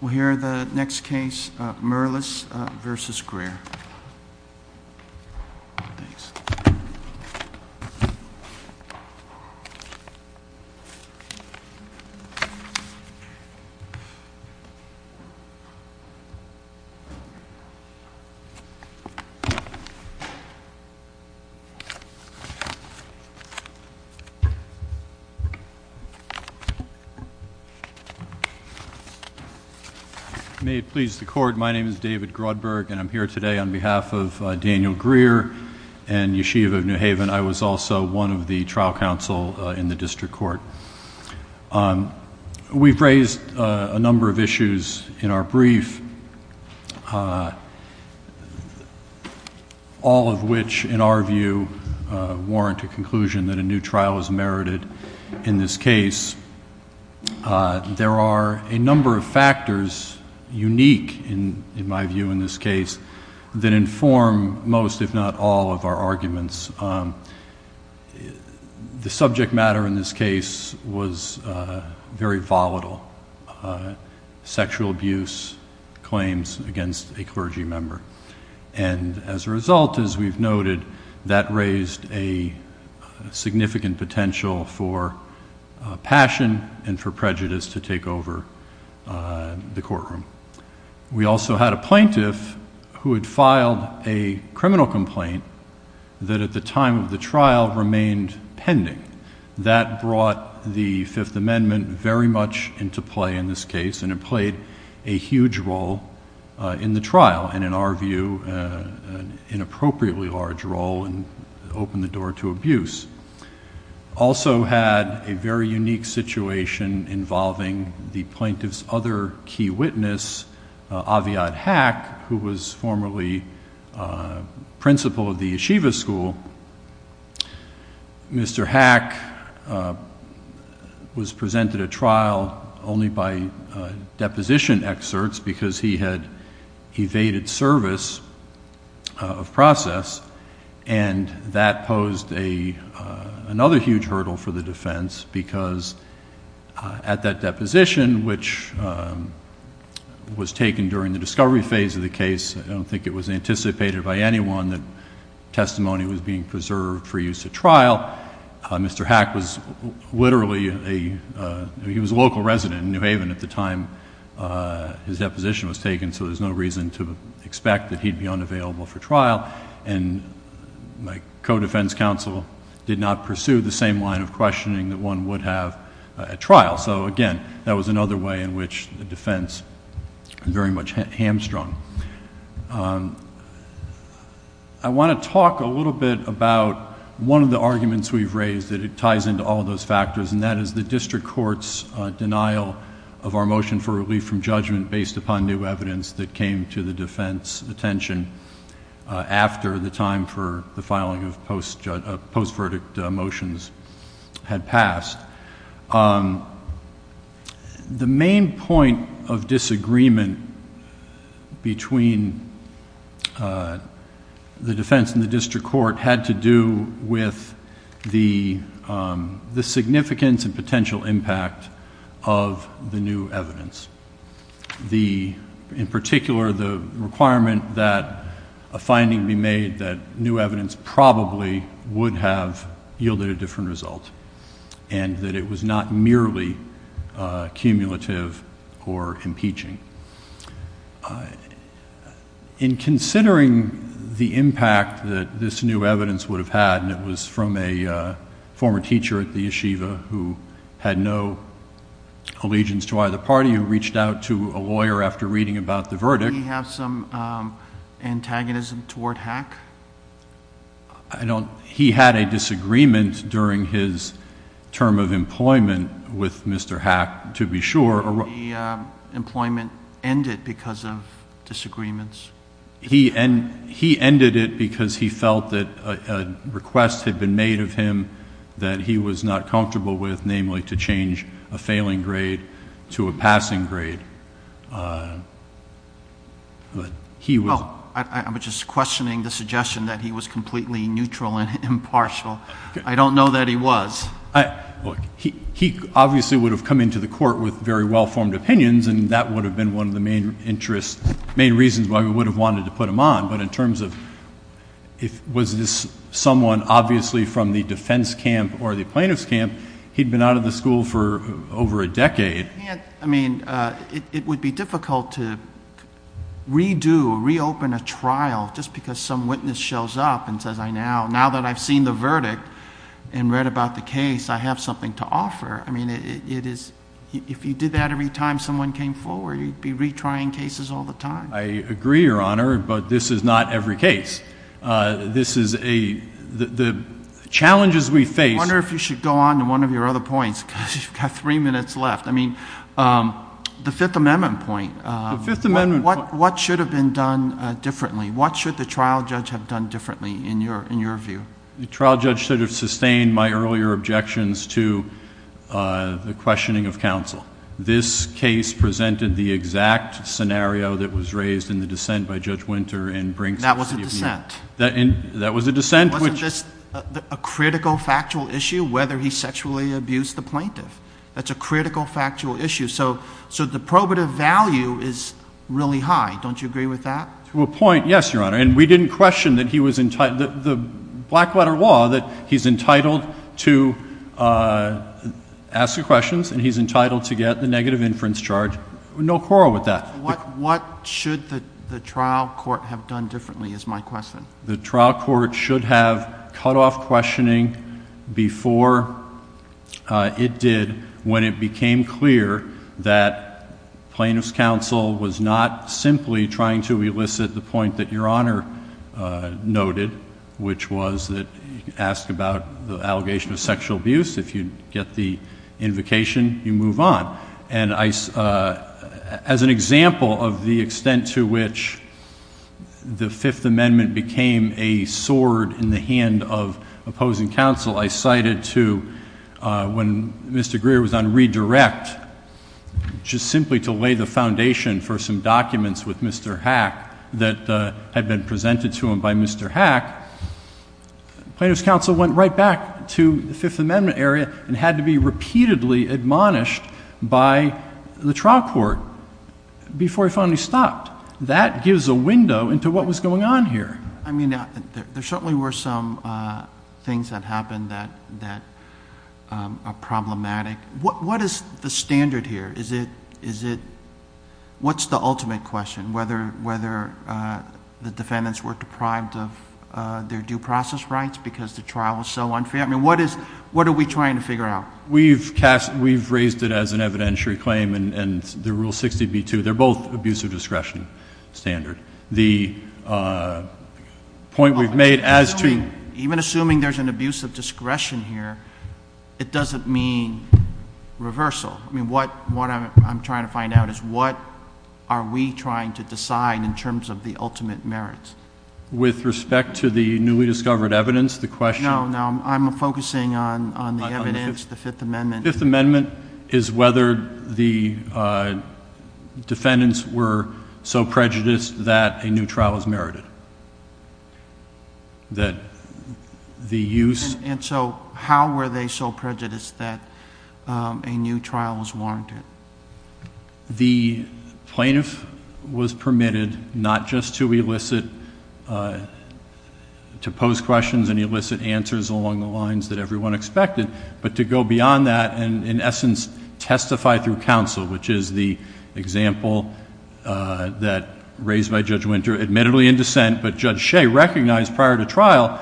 We'll hear the next case, Mirlis v. Greer. May it please the court, my name is David Grodberg and I'm here today on behalf of Daniel Greer and Yeshiva of New Haven. I was also one of the trial counsel in the district court. We've raised a number of issues in our brief, all of which in our view warrant a conclusion that a new trial is merited in this case. There are a number of factors, unique in my view in this case, that inform most if not all of our arguments. The subject matter in this case was very volatile, sexual abuse claims against a clergy member. And as a result, as we've noted, that raised a significant potential for passion and for prejudice to take over the courtroom. We also had a plaintiff who had filed a criminal complaint that at the time of the trial remained pending. That brought the Fifth Amendment very much into play in this case and it played a huge role in the trial and in our view an inappropriately large role and opened the door to abuse. Also had a very unique situation involving the plaintiff's other key witness, Aviad Hack, who was formerly principal of the Yeshiva school. Mr. Hack was presented at trial only by deposition excerpts because he had evaded service of process and that posed another huge hurdle for the defense because at that deposition, which was taken during the discovery phase of the case, I don't think it was anticipated by anyone that testimony was being preserved for use at trial. Mr. Hack was literally a, he was a local resident in New Haven at the time his deposition was taken, so there's no reason to expect that he'd be unavailable for trial. And my co-defense counsel did not pursue the same line of questioning that one would have at trial. So again, that was another way in which the defense very much hamstrung. I want to talk a little bit about one of the arguments we've raised that it ties into all those factors and that is the district court's denial of our motion for relief from judgment based upon new evidence that came to the defense attention after the time for the filing of post-verdict motions had passed. The main point of disagreement between the defense and the district court had to do with the significance and potential impact of the new evidence. The, in particular, the requirement that a finding be made that new evidence probably would have yielded a different result and that it was not merely cumulative or impeaching. In considering the impact that this new evidence would have had, and it was from a former teacher at the Yeshiva who had no allegiance to either party, who reached out to a lawyer after reading about the verdict. Did he have some antagonism toward Hack? He had a disagreement during his term of employment with Mr. Hack, to be sure. Did the employment end it because of disagreements? He ended it because he felt that a request had been made of him that he was not comfortable with, namely to change a failing grade to a passing grade. I'm just questioning the suggestion that he was completely neutral and impartial. I don't know that he was. He obviously would have come into the court with very well-formed opinions and that would have been one of the main reasons why we would have wanted to put him on, but in terms of was this someone obviously from the defense camp or the plaintiff's camp, he'd been out of the school for over a decade. It would be difficult to redo, reopen a trial just because some witness shows up and says, now that I've seen the verdict and read about the case, I have something to offer. I mean, if you did that every time someone came forward, you'd be retrying cases all the time. I agree, Your Honor, but this is not every case. This is the challenges we face. I wonder if you should go on to one of your other points because you've got three minutes left. I mean, the Fifth Amendment point, what should have been done differently? What should the trial judge have done differently in your view? The trial judge should have sustained my earlier objections to the questioning of counsel. This case presented the exact scenario that was raised in the dissent by Judge Winter and Brinks- That was a dissent. That was a dissent which- Wasn't this a critical factual issue, whether he sexually abused the plaintiff? That's a critical factual issue, so the probative value is really high. Don't you agree with that? To a point, yes, Your Honor. And we didn't question that he was entitled, the black letter law, that he's entitled to ask the questions, and he's entitled to get the negative inference charge. No quarrel with that. What should the trial court have done differently is my question. The trial court should have cut off questioning before it did when it became clear that plaintiff's counsel was not simply trying to elicit the point that Your Honor noted, which was that you can ask about the allegation of sexual abuse. If you get the invocation, you move on. And as an example of the extent to which the Fifth Amendment became a sword in the hand of opposing counsel, I cited to when Mr. Greer was on redirect, just simply to lay the foundation for some documents with Mr. Hack that had been presented to him by Mr. Hack. Plaintiff's counsel went right back to the Fifth Amendment area and had to be repeatedly admonished by the trial court before he finally stopped. That gives a window into what was going on here. I mean, there certainly were some things that happened that are problematic. What is the standard here? Is it, what's the ultimate question? Whether the defendants were deprived of their due process rights because the trial was so unfair? I mean, what are we trying to figure out? We've raised it as an evidentiary claim, and the Rule 60b-2, they're both abuse of discretion standard. The point we've made as to- Even assuming there's an abuse of discretion here, it doesn't mean reversal. I mean, what I'm trying to find out is what are we trying to decide in terms of the ultimate merits? With respect to the newly discovered evidence, the question- No, no, I'm focusing on the evidence, the Fifth Amendment. The Fifth Amendment is whether the defendants were so prejudiced that a new trial was merited, that the use- And so, how were they so prejudiced that a new trial was warranted? The plaintiff was permitted not just to elicit, to pose questions and elicit answers along the lines that everyone expected, but to go beyond that and, in essence, testify through counsel, which is the example that, raised by Judge Winter, admittedly in dissent. But Judge Shea recognized, prior to trial,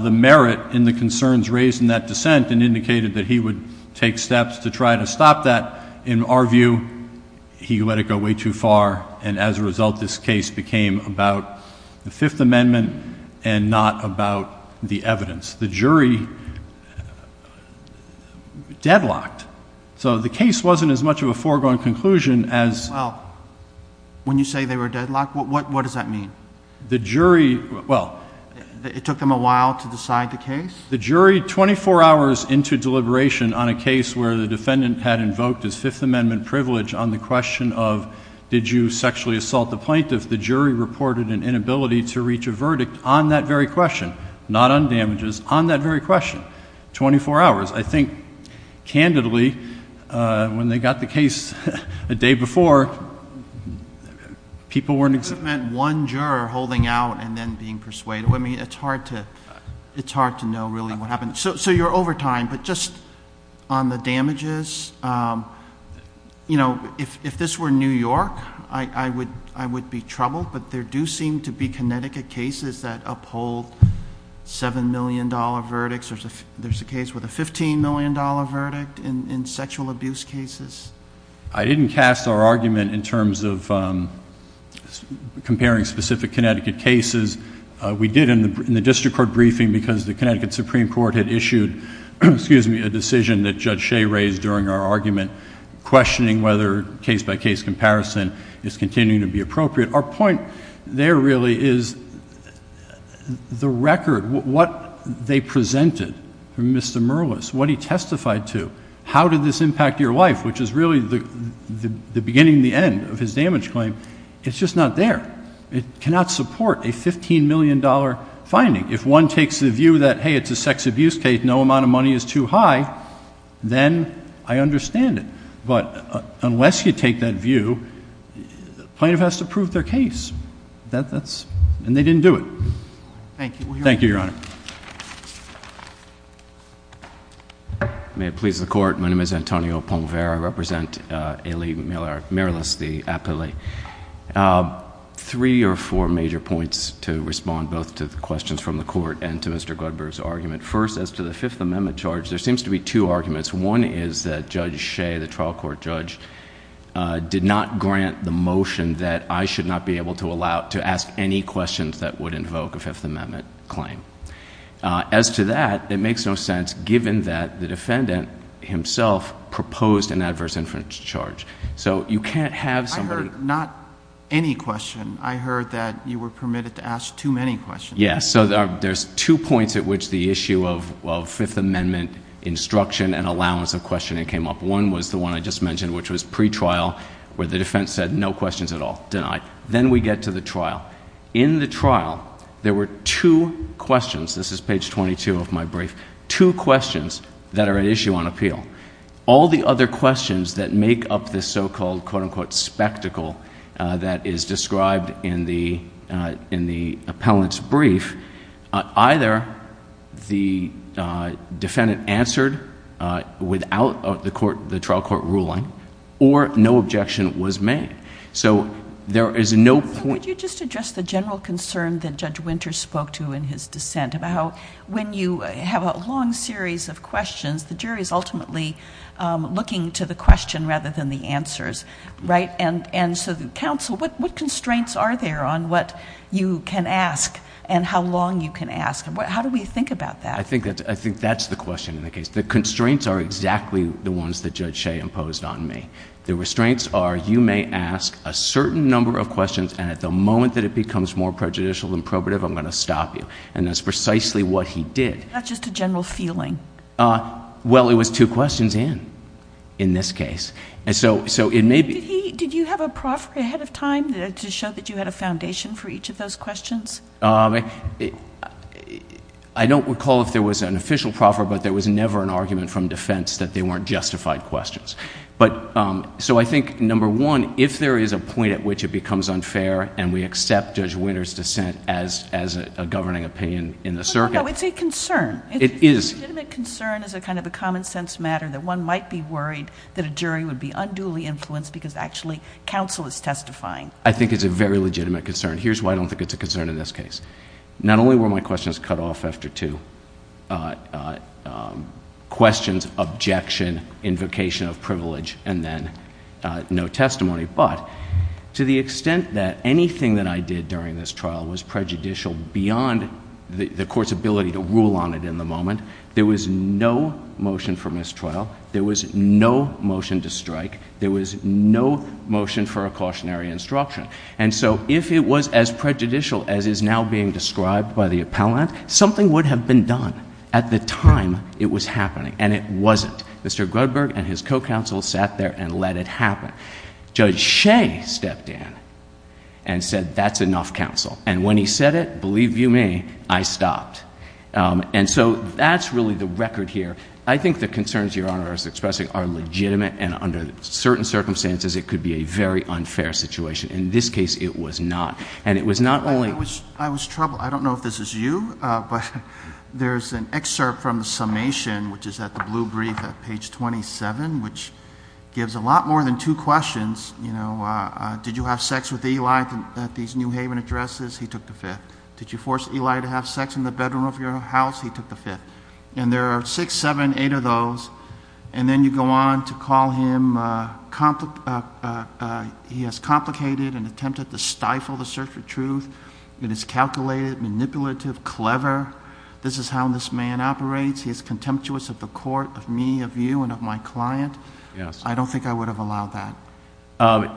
the merit in the concerns raised in that dissent and indicated that he would take steps to try to stop that. In our view, he let it go way too far, and as a result, this case became about the Fifth Amendment and not about the evidence. The jury deadlocked, so the case wasn't as much of a foregone conclusion as- Well, when you say they were deadlocked, what does that mean? The jury, well- It took them a while to decide the case? The jury, 24 hours into deliberation on a case where the defendant had invoked his Fifth Amendment privilege on the question of, did you sexually assault the plaintiff? If the jury reported an inability to reach a verdict on that very question, not on damages, on that very question, 24 hours. I think, candidly, when they got the case a day before, people weren't- That meant one juror holding out and then being persuaded. I mean, it's hard to know really what happened. So you're over time, but just on the damages, if this were New York, I would be troubled, but there do seem to be Connecticut cases that uphold $7 million verdicts. There's a case with a $15 million verdict in sexual abuse cases. I didn't cast our argument in terms of comparing specific Connecticut cases. We did in the district court briefing because the Connecticut Supreme Court had issued, excuse me, a decision that Judge Shea raised during our argument questioning whether case by case comparison is continuing to be appropriate. Our point there really is the record, what they presented from Mr. Merlis, what he testified to, how did this impact your life, which is really the beginning and the end of his damage claim, it's just not there. It cannot support a $15 million finding. If one takes the view that, hey, it's a sex abuse case, no amount of money is too high, then I understand it. But unless you take that view, plaintiff has to prove their case, and they didn't do it. Thank you, Your Honor. May it please the court, my name is Antonio Pomvera. I represent Ailey Merlis, the appellee. Three or four major points to respond both to the questions from the court and to Mr. Goodberg's argument. First, as to the Fifth Amendment charge, there seems to be two arguments. One is that Judge Shea, the trial court judge, did not grant the motion that I should not be able to allow, to ask any questions that would invoke a Fifth Amendment claim. As to that, it makes no sense given that the defendant himself proposed an adverse inference charge. So you can't have somebody- I heard not any question. I heard that you were permitted to ask too many questions. Yes, so there's two points at which the issue of Fifth Amendment instruction and allowance of questioning came up. One was the one I just mentioned, which was pretrial, where the defense said no questions at all, denied. Then we get to the trial. In the trial, there were two questions, this is page 22 of my brief, two questions that are at issue on appeal. All the other questions that make up this so-called quote unquote spectacle that is described in the appellant's brief. Either the defendant answered without the trial court ruling, or no objection was made. So there is no point- Could you just address the general concern that Judge Winters spoke to in his dissent about how when you have a long series of questions, the jury's ultimately looking to the question rather than the answers, right? And so the counsel, what constraints are there on what you can ask and how long you can ask? How do we think about that? I think that's the question in the case. The constraints are exactly the ones that Judge Shea imposed on me. The restraints are you may ask a certain number of questions, and at the moment that it becomes more prejudicial than probative, I'm going to stop you. And that's precisely what he did. That's just a general feeling. Well, it was two questions in, in this case. And so it may be- Did you have a proffer ahead of time to show that you had a foundation for each of those questions? I don't recall if there was an official proffer, but there was never an argument from defense that they weren't justified questions. But, so I think number one, if there is a point at which it becomes unfair and we accept Judge Winter's dissent as a governing opinion in the circuit- No, no, no, it's a concern. It is. It's a legitimate concern as a kind of a common sense matter that one might be worried that a jury would be unduly influenced because actually counsel is testifying. I think it's a very legitimate concern. Here's why I don't think it's a concern in this case. Not only were my questions cut off after two questions, objection, invocation of privilege, and then no testimony. But to the extent that anything that I did during this trial was prejudicial beyond the court's ability to rule on it in the moment, there was no motion for mistrial, there was no motion to strike, there was no motion for a cautionary instruction. And so if it was as prejudicial as is now being described by the appellant, something would have been done at the time it was happening. And it wasn't. Mr. Grudberg and his co-counsel sat there and let it happen. Judge Shea stepped in and said that's enough counsel. And when he said it, believe you me, I stopped. And so that's really the record here. I think the concerns your honor is expressing are legitimate and under certain circumstances it could be a very unfair situation. In this case it was not. And it was not only- I was troubled. I don't know if this is you, but there's an excerpt from the summation, which is at the blue brief at page 27, which gives a lot more than two questions. Did you have sex with Eli at these New Haven addresses? He took the fifth. Did you force Eli to have sex in the bedroom of your house? He took the fifth. And there are six, seven, eight of those. And then you go on to call him, he has complicated and attempted to stifle the search for truth. It is calculated, manipulative, clever. This is how this man operates. He is contemptuous of the court, of me, of you, and of my client. Yes. I don't think I would have allowed that.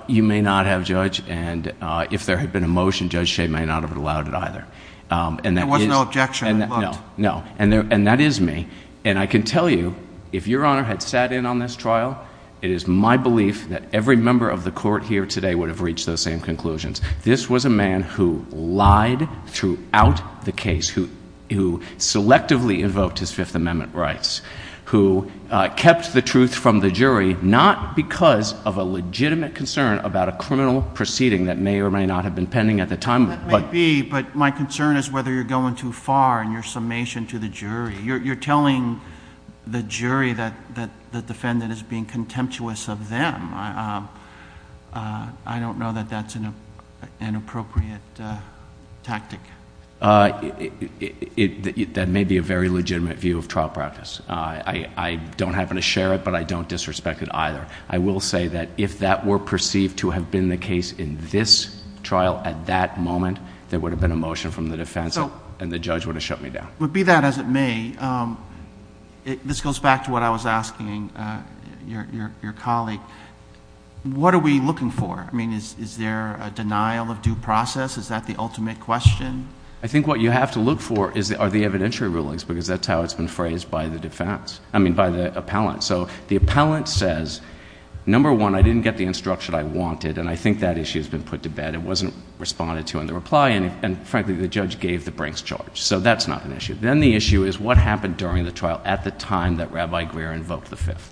You may not have, Judge. And if there had been a motion, Judge Shea may not have allowed it either. And that is- There was no objection, I looked. No. And that is me. And I can tell you, if your Honor had sat in on this trial, it is my belief that every member of the court here today would have reached those same conclusions. This was a man who lied throughout the case, who selectively invoked his Fifth Amendment rights, who kept the truth from the jury, not because of a legitimate concern about a criminal proceeding that may or may not have been pending at the time, but- That may be, but my concern is whether you're going too far in your summation to the jury. You're telling the jury that the defendant is being contemptuous of them. I don't know that that's an appropriate tactic. That may be a very legitimate view of trial practice. I don't happen to share it, but I don't disrespect it either. I will say that if that were perceived to have been the case in this trial at that moment, there would have been a motion from the defense and the judge would have shut me down. But be that as it may, this goes back to what I was asking your colleague, what are we looking for? I mean, is there a denial of due process? Is that the ultimate question? I think what you have to look for are the evidentiary rulings, because that's how it's been phrased by the defense, I mean by the appellant. So the appellant says, number one, I didn't get the instruction I wanted, and I think that issue's been put to bed. It wasn't responded to in the reply, and frankly, the judge gave the Brinks charge. So that's not an issue. Then the issue is what happened during the trial at the time that Rabbi Greer invoked the fifth.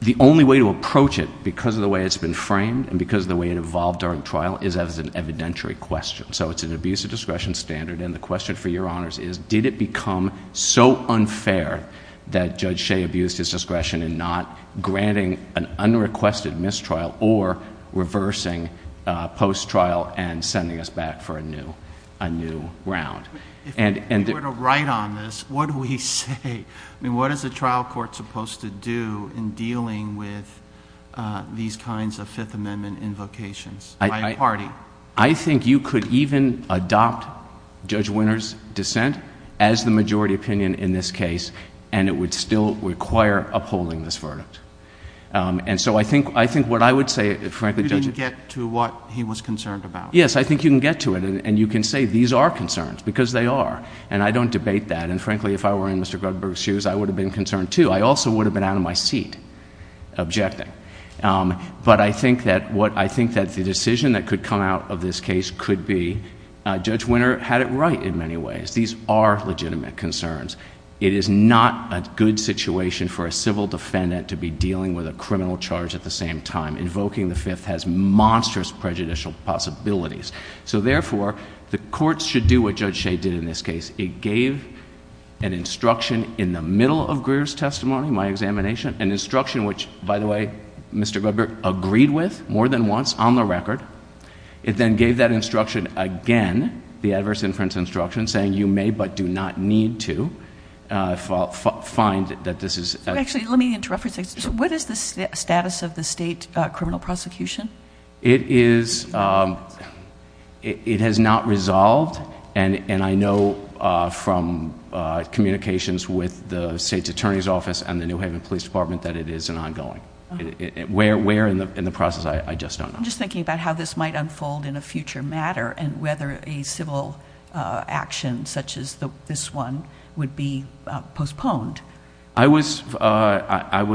The only way to approach it, because of the way it's been framed and because of the way it evolved during trial, is as an evidentiary question. So it's an abuse of discretion standard, and the question for your honors is, did it become so unfair that Judge Shea abused his discretion in not granting an unrequested mistrial or reversing post-trial and sending us back for a new round? And- If you were to write on this, what do we say? I mean, what is the trial court supposed to do in dealing with these kinds of Fifth Amendment invocations by a party? I think you could even adopt Judge Winter's dissent as the majority opinion in this case, and it would still require upholding this verdict. And so I think what I would say, frankly- You didn't get to what he was concerned about. Yes, I think you can get to it, and you can say these are concerns, because they are. And I don't debate that, and frankly, if I were in Mr. Gruggberg's shoes, I would have been concerned too. I also would have been out of my seat objecting. But I think that the decision that could come out of this case could be, Judge Winter had it right in many ways. These are legitimate concerns. It is not a good situation for a civil defendant to be dealing with a criminal charge at the same time. Invoking the fifth has monstrous prejudicial possibilities. So therefore, the courts should do what Judge Shea did in this case. It gave an instruction in the middle of Greer's testimony, my examination, an instruction which, by the way, Mr. Gruggberg agreed with more than once on the record. It then gave that instruction again, the adverse inference instruction, saying you may but do not need to find that this is- Actually, let me interrupt for a second. What is the status of the state criminal prosecution? It is, it has not resolved. And I know from communications with the state's attorney's office and the New Haven Police Department that it is an ongoing, where in the process, I just don't know. I'm just thinking about how this might unfold in a future matter and whether a civil action such as this one would be postponed. I was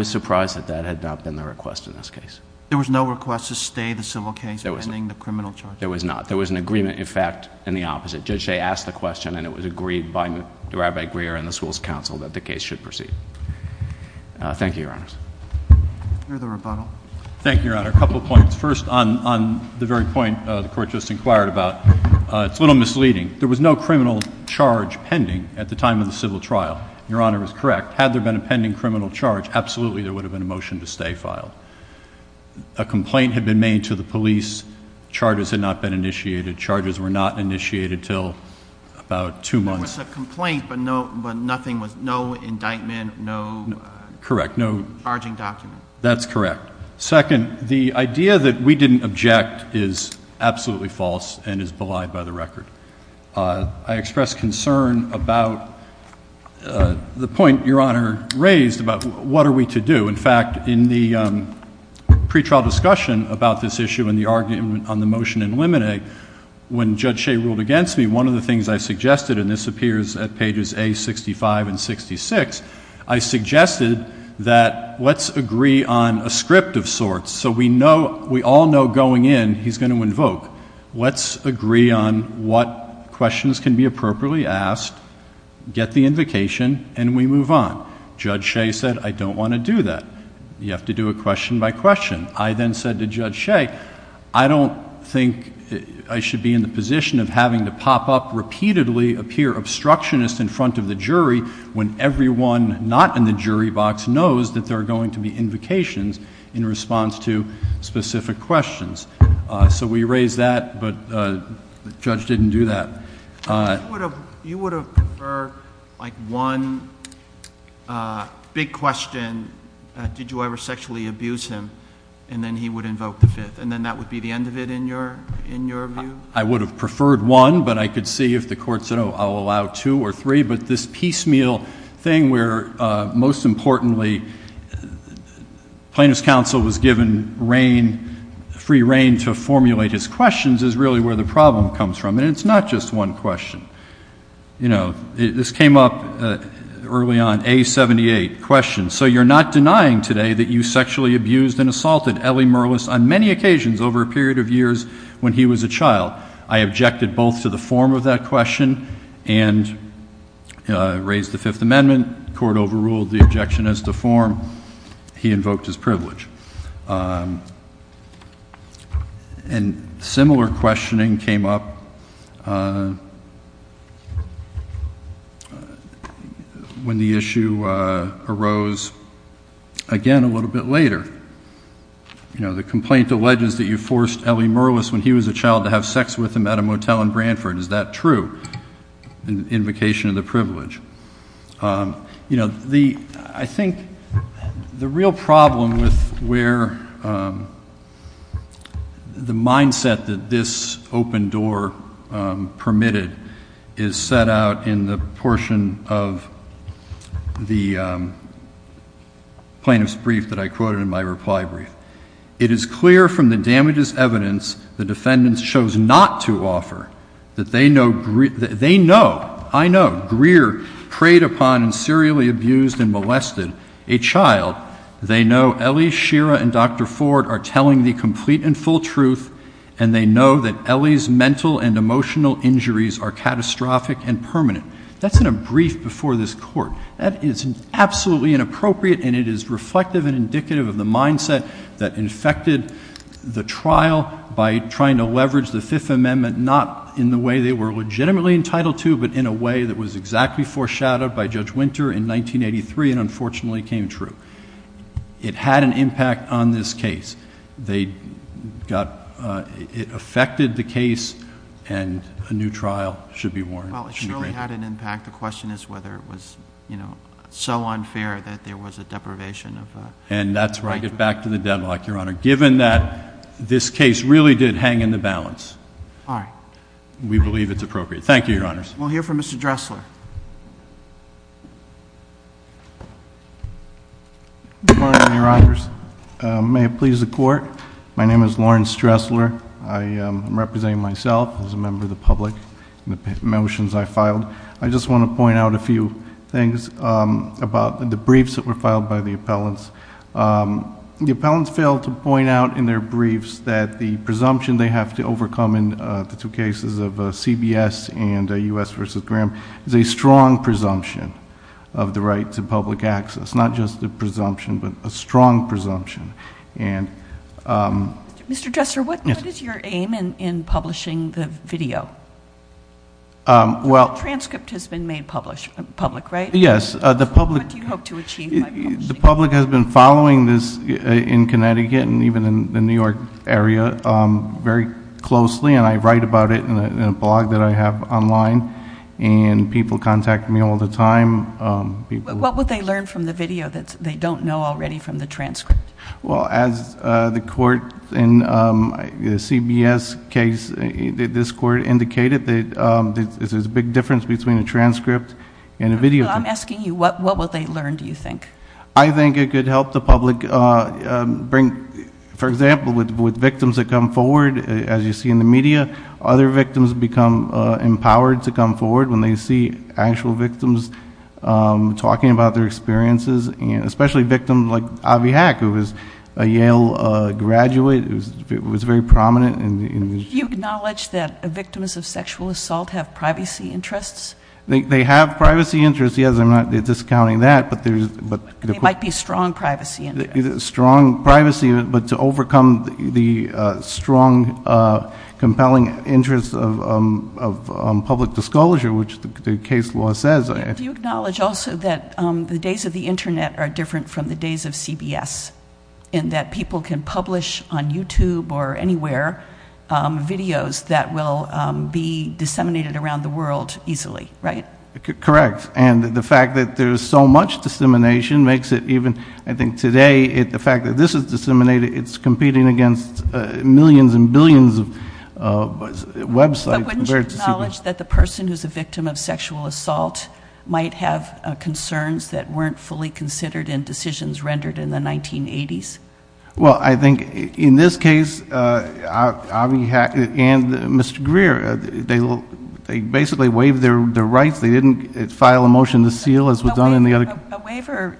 surprised that that had not been the request in this case. There was no request to stay the civil case pending the criminal charge? There was not. There was an agreement, in fact, in the opposite. Judge Shea asked the question and it was agreed by Rabbi Greer and the school's counsel that the case should proceed. Thank you, your honors. I hear the rebuttal. Thank you, your honor. A couple points. First, on the very point the court just inquired about, it's a little misleading. There was no criminal charge pending at the time of the civil trial. Your honor is correct. Had there been a pending criminal charge, absolutely there would have been a motion to stay filed. A complaint had been made to the police. Charges had not been initiated. Charges were not initiated until about two months. There was a complaint but nothing was, no indictment, no- Correct, no- Charging document. That's correct. Second, the idea that we didn't object is absolutely false and is belied by the record. I express concern about the point your honor raised about what are we to do. In fact, in the pre-trial discussion about this issue and the argument on the motion in limine, when Judge Shea ruled against me, one of the things I suggested, and this appears at pages A-65 and 66, I suggested that let's agree on a script of sorts so we all know going in he's going to invoke. Let's agree on what questions can be appropriately asked, get the invocation, and we move on. Judge Shea said, I don't want to do that. You have to do a question by question. I then said to Judge Shea, I don't think I should be in the position of having to pop up repeatedly, appear obstructionist in front of the jury when everyone not in the jury box knows that there are going to be invocations in response to specific questions. So we raised that, but the judge didn't do that. You would have preferred one big question, did you ever sexually abuse him, and then he would invoke the fifth, and then that would be the end of it in your view? I would have preferred one, but I could see if the court said, oh, I'll allow two or three. But this piecemeal thing where, most importantly, plaintiff's counsel was given free reign to formulate his questions is really where the problem comes from. And it's not just one question. This came up early on, A-78, question. So you're not denying today that you sexually abused and assaulted Ellie Merlis on many occasions over a period of years when he was a child. I objected both to the form of that question and raised the Fifth Amendment. Court overruled the objection as to form. He invoked his privilege. And similar questioning came up when the issue arose, again, a little bit later. The complaint alleges that you forced Ellie Merlis, when he was a child, to have sex with him at a motel in Brantford. Is that true, an invocation of the privilege? I think the real problem with where the mindset that this open door permitted is set out in the portion of the plaintiff's brief that I quoted in my reply brief. It is clear from the damages evidence the defendants chose not to offer that they know, I know, Greer preyed upon and serially abused and molested a child. They know Ellie, Shira, and Dr. Ford are telling the complete and full truth. And they know that Ellie's mental and emotional injuries are catastrophic and permanent. That's in a brief before this court. That is absolutely inappropriate, and it is reflective and indicative of the mindset that infected the trial by trying to leverage the Fifth Amendment not in the way they were legitimately entitled to, but in a way that was exactly foreshadowed by Judge Winter in 1983 and unfortunately came true. It had an impact on this case. They got, it affected the case and a new trial should be warranted. Well, it surely had an impact. The question is whether it was so unfair that there was a deprivation of- And that's where I get back to the deadlock, Your Honor. Given that this case really did hang in the balance. All right. We believe it's appropriate. Thank you, Your Honors. We'll hear from Mr. Dressler. Good morning, Your Honors. May it please the court. My name is Lawrence Dressler. I am representing myself as a member of the public in the motions I filed. I just want to point out a few things about the briefs that were filed by the appellants. The appellants failed to point out in their briefs that the presumption they have to overcome in the two cases of CBS and US versus Graham is a strong presumption of the right to public access. It's not just a presumption, but a strong presumption. And- Mr. Dressler, what is your aim in publishing the video? Well- The transcript has been made public, right? Yes, the public- What do you hope to achieve by publishing it? The public has been following this in Connecticut and even in the New York area very closely. And I write about it in a blog that I have online. And people contact me all the time. What would they learn from the video that they don't know already from the transcript? Well, as the court in the CBS case, this court indicated that there's a big difference between a transcript and a video. I'm asking you, what will they learn, do you think? I think it could help the public bring, for example, with victims that come forward, as you see in the media, other victims become empowered to come forward when they see actual victims talking about their experiences, especially victims like Avi Hack, who was a Yale graduate, who was very prominent in- You acknowledge that victims of sexual assault have privacy interests? They have privacy interests, yes, I'm not discounting that, but there's- There might be strong privacy interests. There might be strong privacy, but to overcome the strong, compelling interests of public disclosure, which the case law says- Do you acknowledge also that the days of the Internet are different from the days of CBS, in that people can publish on YouTube or anywhere videos that will be disseminated around the world easily, right? Correct, and the fact that there's so much dissemination makes it even, I think today, the fact that this is disseminated, it's competing against millions and billions of websites. But wouldn't you acknowledge that the person who's a victim of sexual assault might have concerns that weren't fully considered in decisions rendered in the 1980s? Well, I think in this case, Avi Hack and Mr. Greer, they basically waived their rights. They didn't file a motion to seal, as was done in the other- A waiver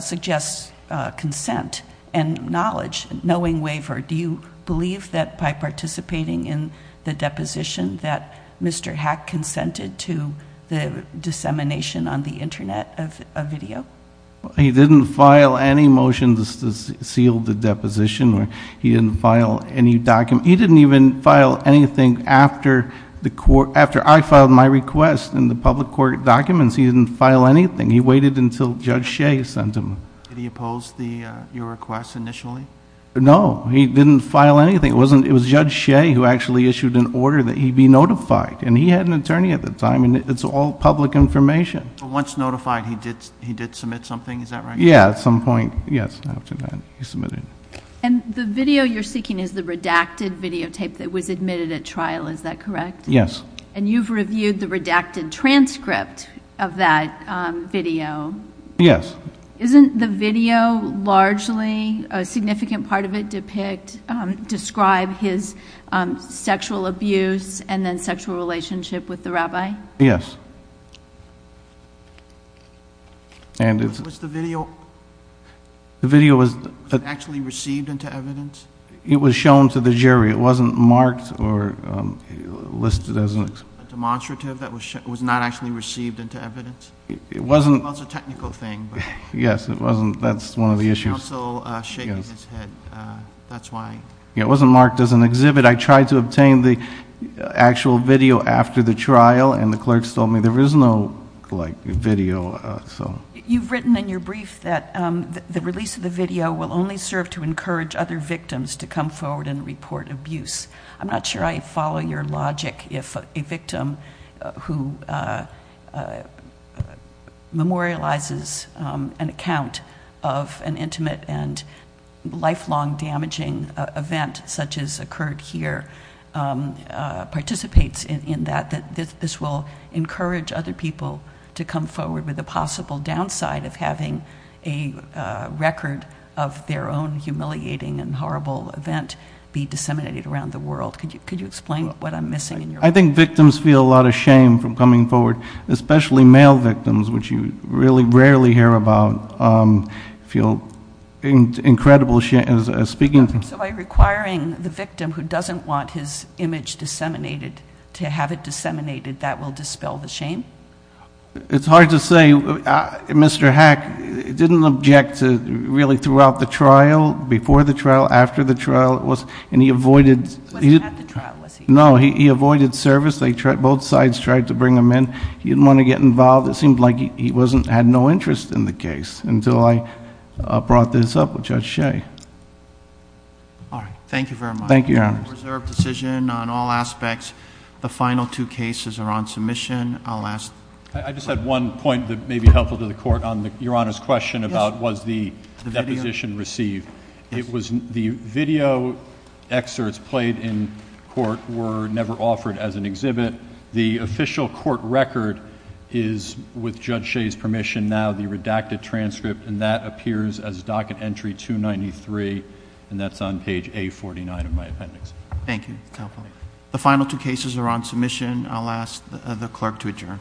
suggests consent and knowledge. Knowing waiver, do you believe that by participating in the deposition that Mr. Hack consented to the dissemination on the Internet of video? He didn't file any motions to seal the deposition, or he didn't file any document. He didn't even file anything after I filed my request in the public court documents. He didn't file anything. He waited until Judge Shea sent him. Did he oppose your request initially? No, he didn't file anything. It was Judge Shea who actually issued an order that he be notified, and he had an attorney at the time, and it's all public information. Once notified, he did submit something, is that right? Yeah, at some point, yes, after that, he submitted. And the video you're seeking is the redacted videotape that was admitted at trial, is that correct? Yes. And you've reviewed the redacted transcript of that video? Yes. Isn't the video largely, a significant part of it, describe his sexual abuse and then sexual relationship with the rabbi? Yes. And it's- Was the video actually received into evidence? It was shown to the jury. It wasn't marked or listed as an- Demonstrative that was not actually received into evidence? It wasn't- It was a technical thing, but- Yes, it wasn't, that's one of the issues. It's also shaking his head, that's why- Yeah, it wasn't marked as an exhibit. I tried to obtain the actual video after the trial, and the clerk told me there is no video, so. You've written in your brief that the release of the video will only serve to encourage other victims to come forward and report abuse. I'm not sure I follow your logic if a victim who memorializes an account of an intimate and lifelong damaging event such as occurred here participates in that, that this will encourage other people to come forward with a possible downside of having a record of their own humiliating and horrible event be disseminated around the world. Could you explain what I'm missing in your- I think victims feel a lot of shame from coming forward, especially male victims, which you really rarely hear about, feel incredible shame, speaking of- So by requiring the victim who doesn't want his image disseminated to have it disseminated, that will dispel the shame? It's hard to say. Mr. Hack didn't object to really throughout the trial, before the trial, after the trial, and he avoided- He wasn't at the trial, was he? No, he avoided service. Both sides tried to bring him in. He didn't want to get involved. It seemed like he had no interest in the case until I brought this up with Judge Shea. All right, thank you very much. Thank you, Your Honors. Reserved decision on all aspects. The final two cases are on submission. I'll ask- I just had one point that may be helpful to the court on Your Honor's question about was the deposition received. It was the video excerpts played in court were never offered as an exhibit. The official court record is, with Judge Shea's permission now, the redacted transcript, and that appears as docket entry 293, and that's on page A49 of my appendix. Thank you. The final two cases are on submission. I'll ask the clerk to adjourn.